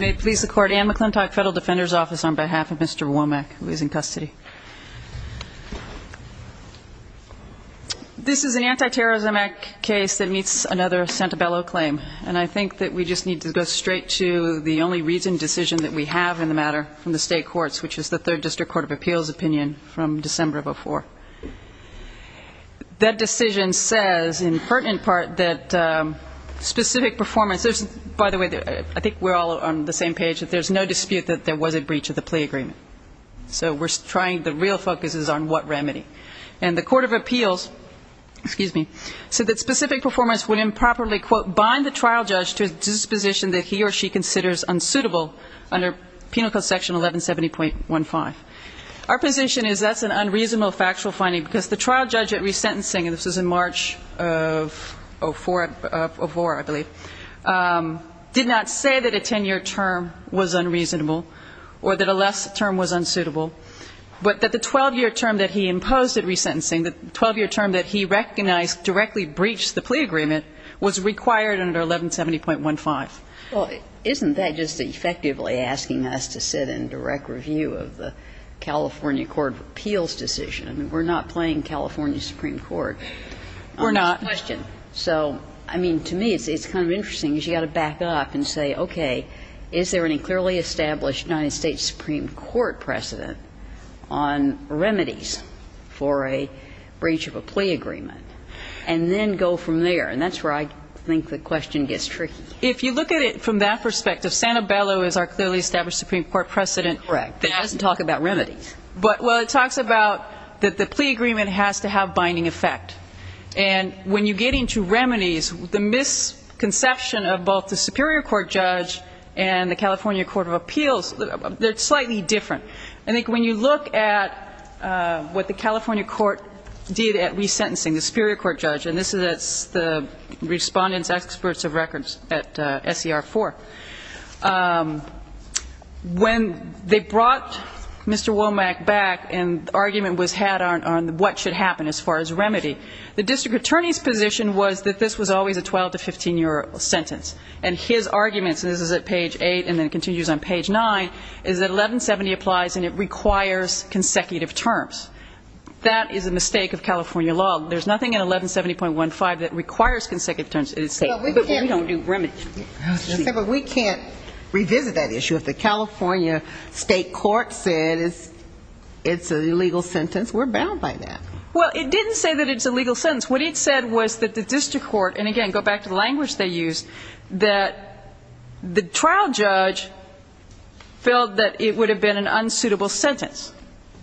May it please the Court, Anne McClintock, Federal Defender's Office, on behalf of Mr. Womack, who is in custody. This is an anti-terrorism act case that meets another Santabello claim. And I think that we just need to go straight to the only reasoned decision that we have in the matter from the state courts, which is the Third District Court of Appeals opinion from December of 2004. That decision says, in pertinent part, that specific performance, by the way, I think we're all on the same page, that there's no dispute that there was a breach of the plea agreement. So we're trying, the real focus is on what remedy. And the Court of Appeals, excuse me, said that specific performance would improperly, quote, bind the trial judge to a disposition that he or she considers unsuitable under Penal Code Section 1170.15. Our position is that's an unreasonable factual finding because the trial judge at resentencing, and this was in March of 2004, I believe, did not say that a 10-year term was unreasonable or that a less term was unsuitable, but that the 12-year term that he imposed at resentencing, the 12-year term that he recognized directly breached the plea agreement, was required under 1170.15. Well, isn't that just effectively asking us to sit in direct review of the California Court of Appeals decision? I mean, we're not playing California Supreme Court on this question. We're not. So, I mean, to me, it's kind of interesting because you've got to back up and say, okay, is there any clearly established United States Supreme Court precedent on remedies for a breach of a plea agreement? And then go from there. And that's where I think the question gets tricky. If you look at it from that perspective, Sanibello is our clearly established Supreme Court precedent that doesn't talk about remedies. But, well, it talks about that the plea agreement has to have binding effect. And when you get into remedies, the misconception of both the Superior Court judge and the California Court of Appeals, they're slightly different. I think when you look at what the California court did at resentencing, the Superior Court judge, and this is the respondent's experts of records at SCR4, when they brought Mr. Womack back and the argument was had on what should happen as far as remedy, the district attorney's position was that this was always a 12 to 15-year sentence. And his arguments, and this is at page 8 and then continues on page 9, is that 1170 applies and it requires consecutive terms. That is a mistake of California law. There's nothing in 1170.15 that requires consecutive terms. We don't do remedies. But we can't revisit that issue. If the California state court said it's an illegal sentence, we're bound by that. Well, it didn't say that it's a legal sentence. What it said was that the district court, and again, go back to the language they used, that the trial judge felt that it would have been an unsuitable sentence.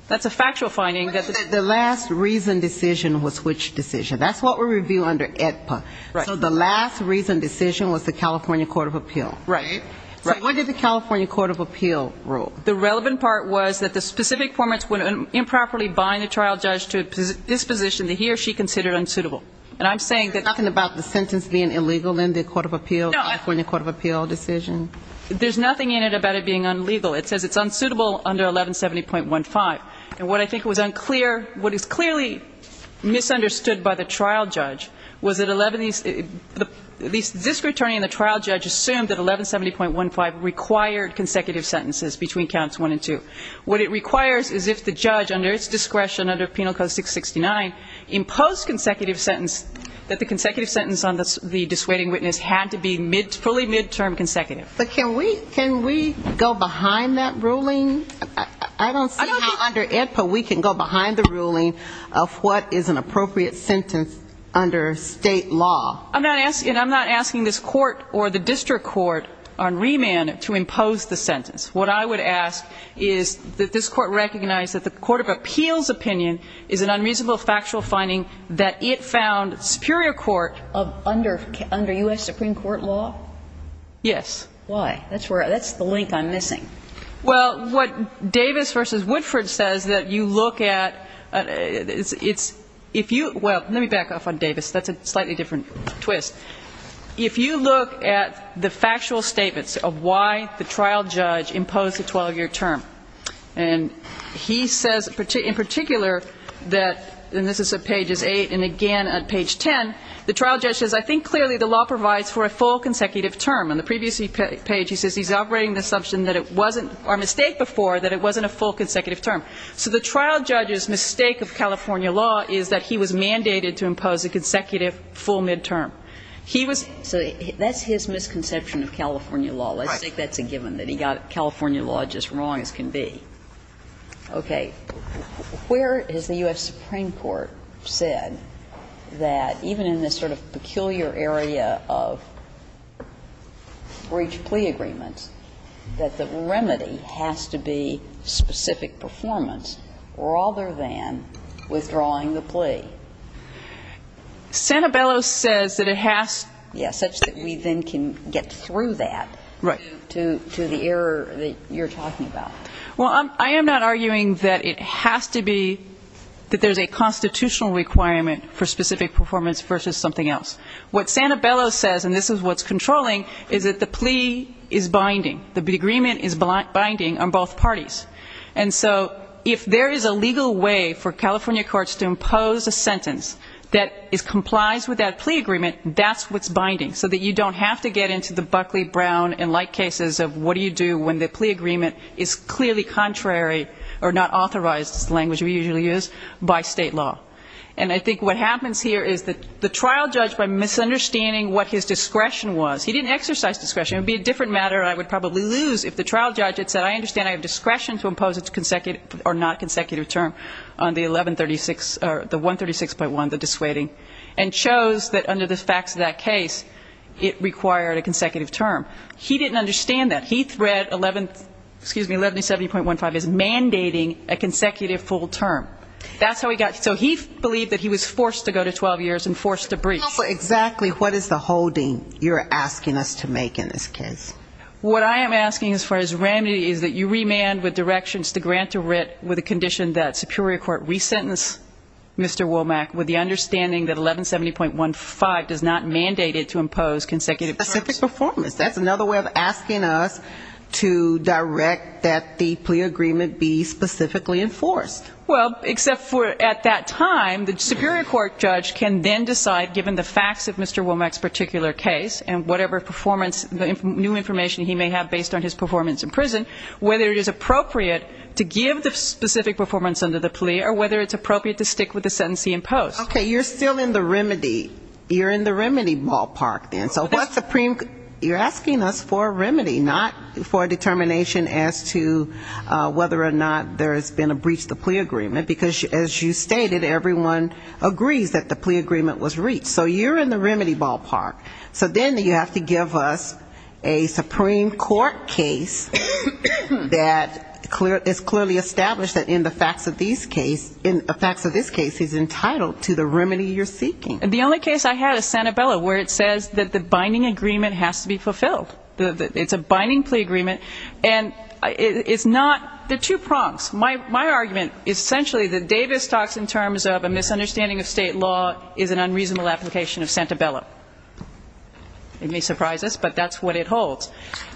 That's a factual finding. The last reason decision was which decision? That's what we review under AEDPA. So the last reason decision was the California Court of Appeal. Right. So what did the California Court of Appeal rule? The relevant part was that the specific formants would improperly bind the trial judge to a disposition that he or she considered unsuitable. And I'm saying that the sentence being illegal in the California Court of Appeal decision? There's nothing in it about it being unlegal. It says it's unsuitable under 1170.15. And what I think was unclear, what is clearly misunderstood by the trial judge, was that this attorney and the trial judge assumed that 1170.15 required consecutive sentences between counts one and two. What it requires is if the judge, under its discretion under Penal Code 669, imposed consecutive sentence, that the consecutive sentence on the dissuading witness had to be fully midterm consecutive. But can we go behind that ruling? I don't see how under AEDPA we can go behind the ruling of what is an appropriate sentence under state law. I'm not asking this court or the district court on remand to impose the sentence. What I would ask is that this court recognize that the Court of Appeal's opinion is an unreasonable factual finding that it found superior court under U.S. Supreme Court law? Yes. Why? That's the link I'm missing. Well, what Davis v. Woodford says that you look at, it's, if you, well, let me back up on Davis. That's a slightly different twist. If you look at the factual statements of why the trial judge imposed a 12-year term, and he says in particular that, and this is at pages 8 and again at page 10, the trial judge says, I think clearly the law provides for a full consecutive term. On the previous page he says he's operating the assumption that it wasn't, or a mistake before, that it wasn't a full consecutive term. So the trial judge's mistake of California law is that he was mandated to impose a consecutive full midterm. He was. So that's his misconception of California law. Right. Let's say that's a given, that he got California law just wrong as can be. Okay. Where has the U.S. Supreme Court said that even in this sort of peculiar area of breach plea agreements, that the remedy has to be specific performance rather than withdrawing the plea? Santabello says that it has to. Yes. Such that we then can get through that. Right. To the error that you're talking about. Well, I am not arguing that it has to be, that there's a constitutional requirement for specific performance versus something else. What Santabello says, and this is what's controlling, is that the plea is binding. The agreement is binding on both parties. And so if there is a legal way for California courts to impose a sentence that complies with that plea agreement, that's what's binding so that you don't have to get into the Buckley, Brown, and like cases of what do you do when the plea agreement is clearly contrary or not authorized, as the language we usually use, by state law. And I think what happens here is that the trial judge, by misunderstanding what his discretion was, he didn't exercise discretion. It would be a different matter and I would probably lose if the trial judge had said, I understand I have discretion to impose a consecutive or not consecutive term on the 1136, or the 136.1, the dissuading, and chose that under the facts of that case it required a consecutive term. He didn't understand that. He read 1170.15 as mandating a consecutive full term. That's how he got it. So he believed that he was forced to go to 12 years and forced to brief. Exactly. What is the holding you're asking us to make in this case? What I am asking as far as remedy is that you remand with directions to grant a writ with a condition that superior court resentence Mr. Womack with the understanding that 1170.15 does not mandate it to impose consecutive terms. Specific performance. That's another way of asking us to direct that the plea agreement be specifically enforced. Well, except for at that time, the superior court judge can then decide, given the facts of Mr. Womack's particular case and whatever performance, new information he may have based on his performance in prison, whether it is appropriate to give the specific performance under the plea or whether it's appropriate to stick with the sentence he imposed. Okay. You're still in the remedy. You're in the remedy ballpark then. You're asking us for a remedy, not for a determination as to whether or not there has been a breach of the plea agreement, because as you stated, everyone agrees that the plea agreement was reached. So you're in the remedy ballpark. So then you have to give us a Supreme Court case that is clearly established that in the facts of this case is entitled to the remedy you're seeking. The only case I had is Santabella, where it says that the binding agreement has to be fulfilled. It's a binding plea agreement. And it's not the two prongs. My argument is essentially that Davis talks in terms of a misunderstanding of state law is an unreasonable application of Santabella. It may surprise us, but that's what it holds.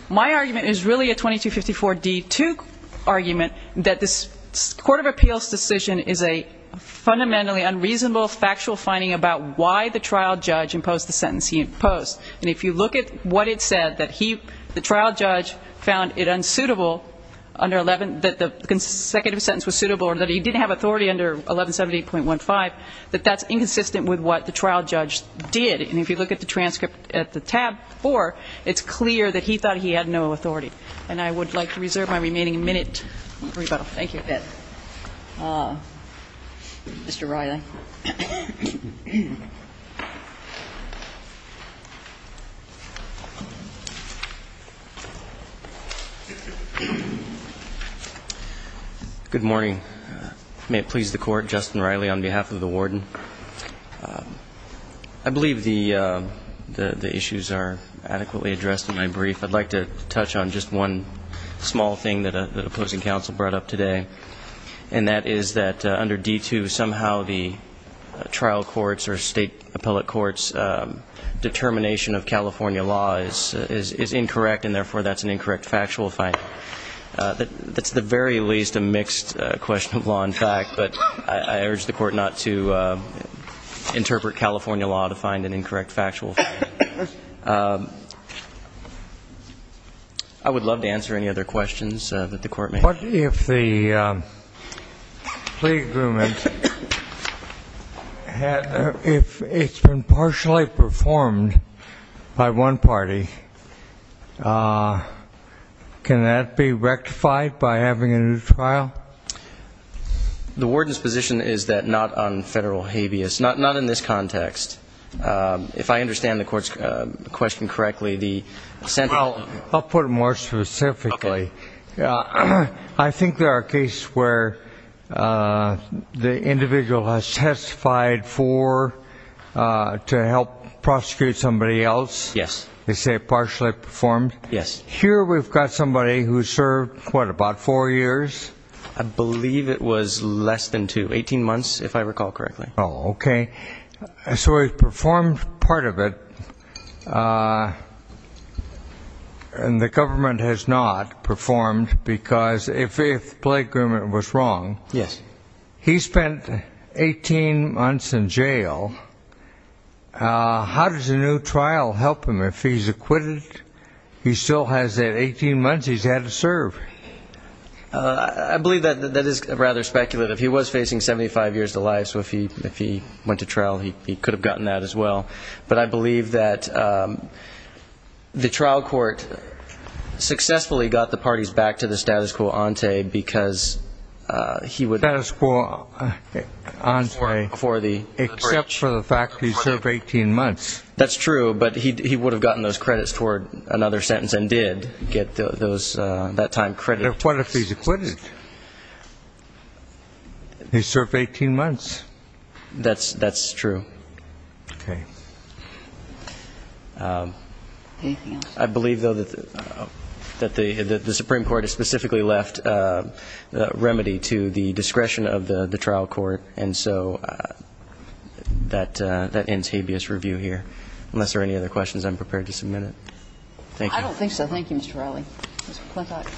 My argument is really a 2254D2 argument that this court of appeals decision is a fundamentally unreasonable factual finding about why the trial judge imposed the sentence he imposed. And if you look at what it said, that the trial judge found it unsuitable, that the consecutive sentence was suitable or that he didn't have authority under 1170.15, that that's inconsistent with what the trial judge did. And if you look at the transcript at the tab four, it's clear that he thought he had no authority. And I would like to reserve my remaining minute. Thank you. Mr. Riley. Good morning. May it please the Court. Justin Riley on behalf of the Warden. I believe the issues are adequately addressed in my brief. I'd like to touch on just one small thing that opposing counsel brought up today, and that is that under D2 somehow the trial courts or state appellate courts' determination of California law is incorrect, and therefore that's an incorrect factual finding. That's at the very least a mixed question of law and fact, but I urge the Court not to interpret California law to find an incorrect factual finding. I would love to answer any other questions that the Court may have. What if the plea agreement, if it's been partially performed by one party, can that be rectified by having a new trial? The Warden's position is that not on federal habeas. Not in this context. If I understand the Court's question correctly, the Senate... Well, I'll put it more specifically. Okay. I think there are cases where the individual has testified for to help prosecute somebody else. Yes. They say partially performed. Yes. Here we've got somebody who served, what, about four years? I believe it was less than two. Eighteen months, if I recall correctly. Oh, okay. So he performed part of it, and the government has not performed because if the plea agreement was wrong... Yes. He spent 18 months in jail. How does a new trial help him? If he's acquitted, he still has that 18 months he's had to serve. I believe that is rather speculative. He was facing 75 years to life, so if he went to trial, he could have gotten that as well. But I believe that the trial court successfully got the parties back to the status quo ante because he would... Status quo ante. For the breach. Except for the fact that he served 18 months. That's true, but he would have gotten those credits toward another sentence and did get that time credit. What if he's acquitted? He served 18 months. That's true. Okay. Anything else? I believe, though, that the Supreme Court has specifically left remedy to the discretion of the trial court, and so that ends habeas review here. Unless there are any other questions, I'm prepared to submit it. Thank you. I don't think so. Thank you, Mr. Riley. Ms. McClintock.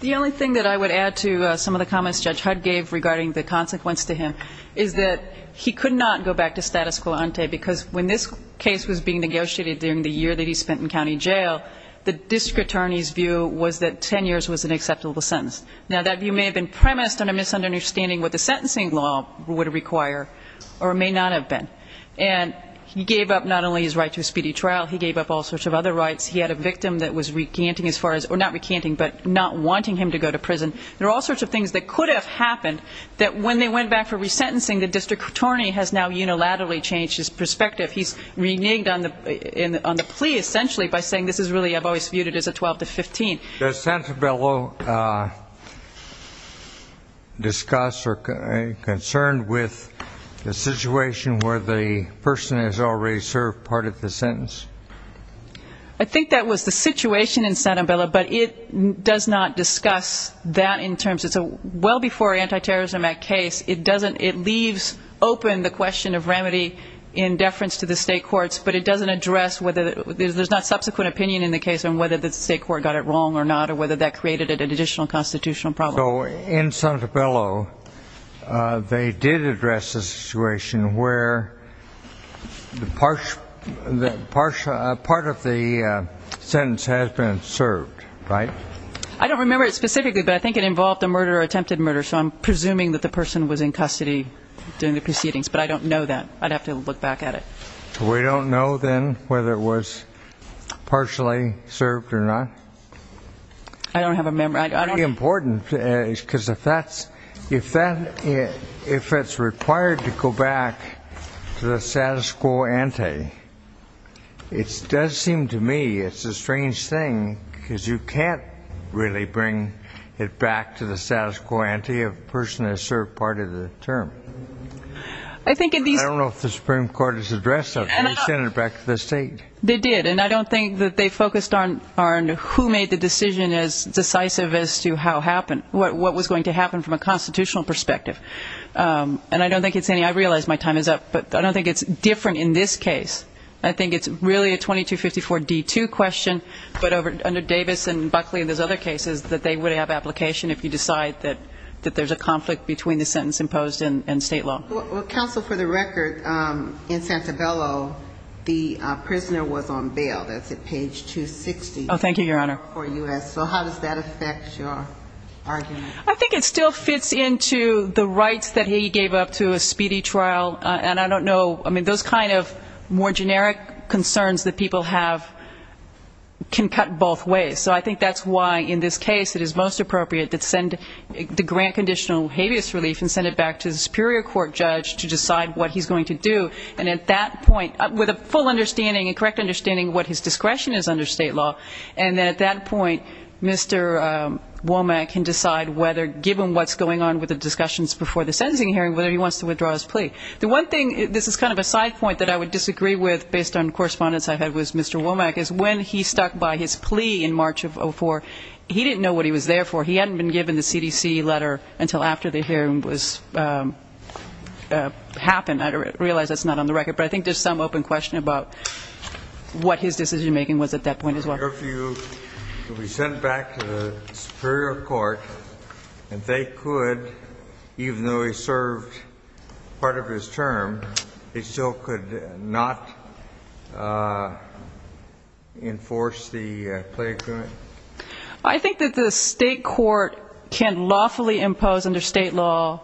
The only thing that I would add to some of the comments Judge Hudd gave regarding the consequence to him is that he could not go back to status quo ante, because when this case was being negotiated during the year that he spent in county jail, the district attorney's view was that 10 years was an acceptable sentence. Now, that view may have been premised on a misunderstanding of what the sentencing law would require or may not have been, and he gave up not only his right to a speedy trial, he gave up all sorts of other rights. He had a victim that was recanting as far as or not recanting but not wanting him to go to prison. There are all sorts of things that could have happened that when they went back for resentencing, the district attorney has now unilaterally changed his perspective. He's reneged on the plea essentially by saying this is really, I've always viewed it as a 12 to 15. Does Santabella discuss or concern with the situation where the person has already served part of the sentence? I think that was the situation in Santabella, but it does not discuss that in terms. It's a well before anti-terrorism act case. It leaves open the question of remedy in deference to the state courts, but it doesn't address whether there's not subsequent opinion in the case on whether the state court got it wrong or not or whether that created an additional constitutional problem. So in Santabella, they did address the situation where part of the sentence has been served, right? I don't remember it specifically, but I think it involved a murder or attempted murder, so I'm presuming that the person was in custody during the proceedings, but I don't know that. I'd have to look back at it. So we don't know then whether it was partially served or not? I don't have a memory. It's pretty important because if it's required to go back to the status quo ante, it does seem to me it's a strange thing because you can't really bring it back to the status quo ante if a person has served part of the term. I don't know if the Supreme Court has addressed that. They sent it back to the state. They did, and I don't think that they focused on who made the decision as decisive as to what was going to happen from a constitutional perspective, and I realize my time is up, but I don't think it's different in this case. I think it's really a 2254D2 question, but under Davis and Buckley and those other cases, that they would have application if you decide that there's a conflict between the sentence imposed and state law. Counsel, for the record, in Santabello, the prisoner was on bail. That's at page 260. Oh, thank you, Your Honor. So how does that affect your argument? I think it still fits into the rights that he gave up to a speedy trial, and I don't know. I mean, those kind of more generic concerns that people have can cut both ways, so I think that's why in this case it is most appropriate to send the grant conditional habeas relief and send it back to the superior court judge to decide what he's going to do, and at that point, with a full understanding and correct understanding of what his discretion is under state law, and at that point, Mr. Womack can decide whether, given what's going on with the discussions before the sentencing hearing, whether he wants to withdraw his plea. The one thing, this is kind of a side point that I would disagree with based on correspondence I've had with Mr. Womack, is when he stuck by his plea in March of 2004, he didn't know what he was there for. He hadn't been given the CDC letter until after the hearing happened. I realize that's not on the record, but I think there's some open question about what his decision-making was at that point as well. If he were sent back to the superior court and they could, even though he served part of his term, they still could not enforce the plea agreement? I think that the state court can lawfully impose under state law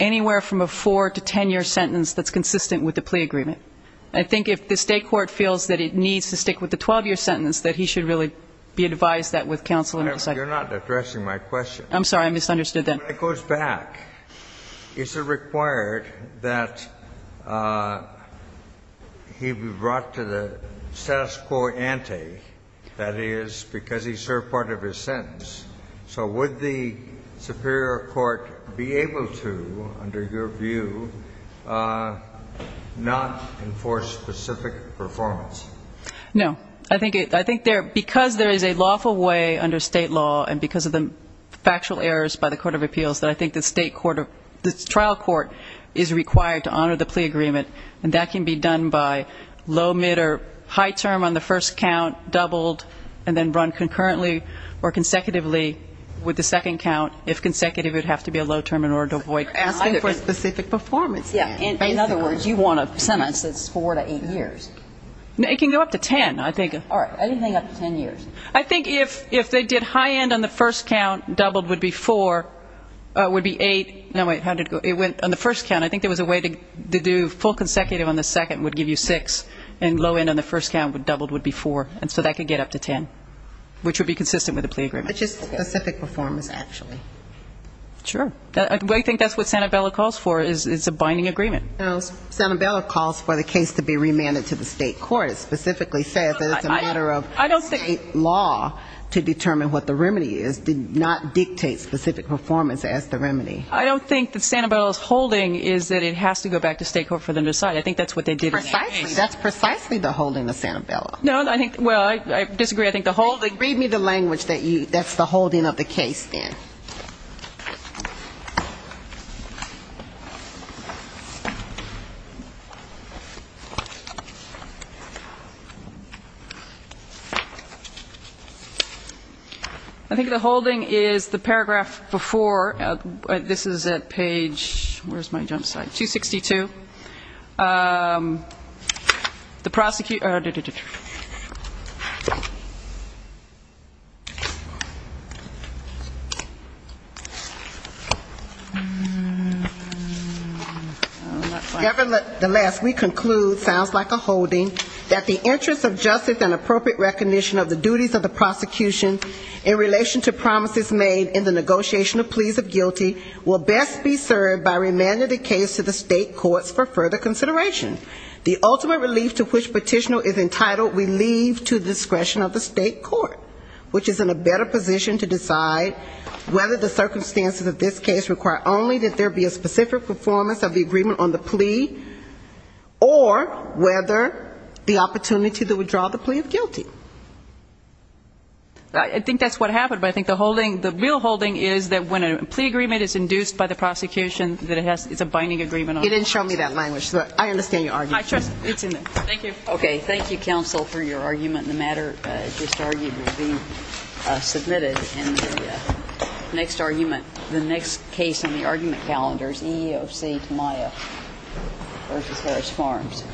anywhere from a 4- to 10-year sentence that's consistent with the plea agreement. I think if the state court feels that it needs to stick with the 12-year sentence, that he should really be advised that with counsel and decide. You're not addressing my question. I'm sorry. I misunderstood that. When he goes back, is it required that he be brought to the status quo ante, that is, because he served part of his sentence? So would the superior court be able to, under your view, not enforce specific performance? No. I think because there is a lawful way under state law and because of the factual errors by the Court of Appeals, that I think the trial court is required to honor the plea agreement, and that can be done by low, mid, or high term on the first count, doubled, and then run concurrently or consecutively with the second count, if consecutive it would have to be a low term in order to avoid asking for specific performance. In other words, you want a sentence that's 4- to 8-years. It can go up to 10, I think. All right. I didn't think up to 10 years. I think if they did high end on the first count, doubled would be 4, would be 8. No, wait. How did it go? It went on the first count. I think there was a way to do full consecutive on the second would give you 6, and low end on the first count doubled would be 4, and so that could get up to 10, which would be consistent with the plea agreement. But just specific performance, actually. Sure. I think that's what Santabella calls for is a binding agreement. Santabella calls for the case to be remanded to the state court. It specifically says that it's a matter of state law to determine what the remedy is. Did not dictate specific performance as the remedy. I don't think that Santabella's holding is that it has to go back to state court for them to decide. I think that's what they did in A.C. Precisely. That's precisely the holding of Santabella. Well, I disagree. Read me the language that's the holding of the case, then. I think the holding is the paragraph before. This is at page 262. The prosecutor. Nevertheless, we conclude, sounds like a holding, that the interest of justice and appropriate recognition of the duties of the prosecution in relation to promises made in the negotiation of pleas of guilty will best be served by remanding the case to the state courts for further consideration. The ultimate relief to which petitioner is entitled, we leave to the discretion of the state court, which is in a better position to decide whether the circumstances of this case require only that there be a specific performance of the agreement on the plea, or whether the opportunity to withdraw the plea of guilty. I think that's what happened. But I think the holding, the real holding is that when a plea agreement is induced by the prosecution, that it has, it's a binding agreement. You didn't show me that language. But I understand your argument. I trust it's in there. Thank you. Okay. Thank you, counsel, for your argument. The matter just argued will be submitted in the next argument. The next case on the argument calendar is EEOC Tamayo v. Harris Farms. Thank you.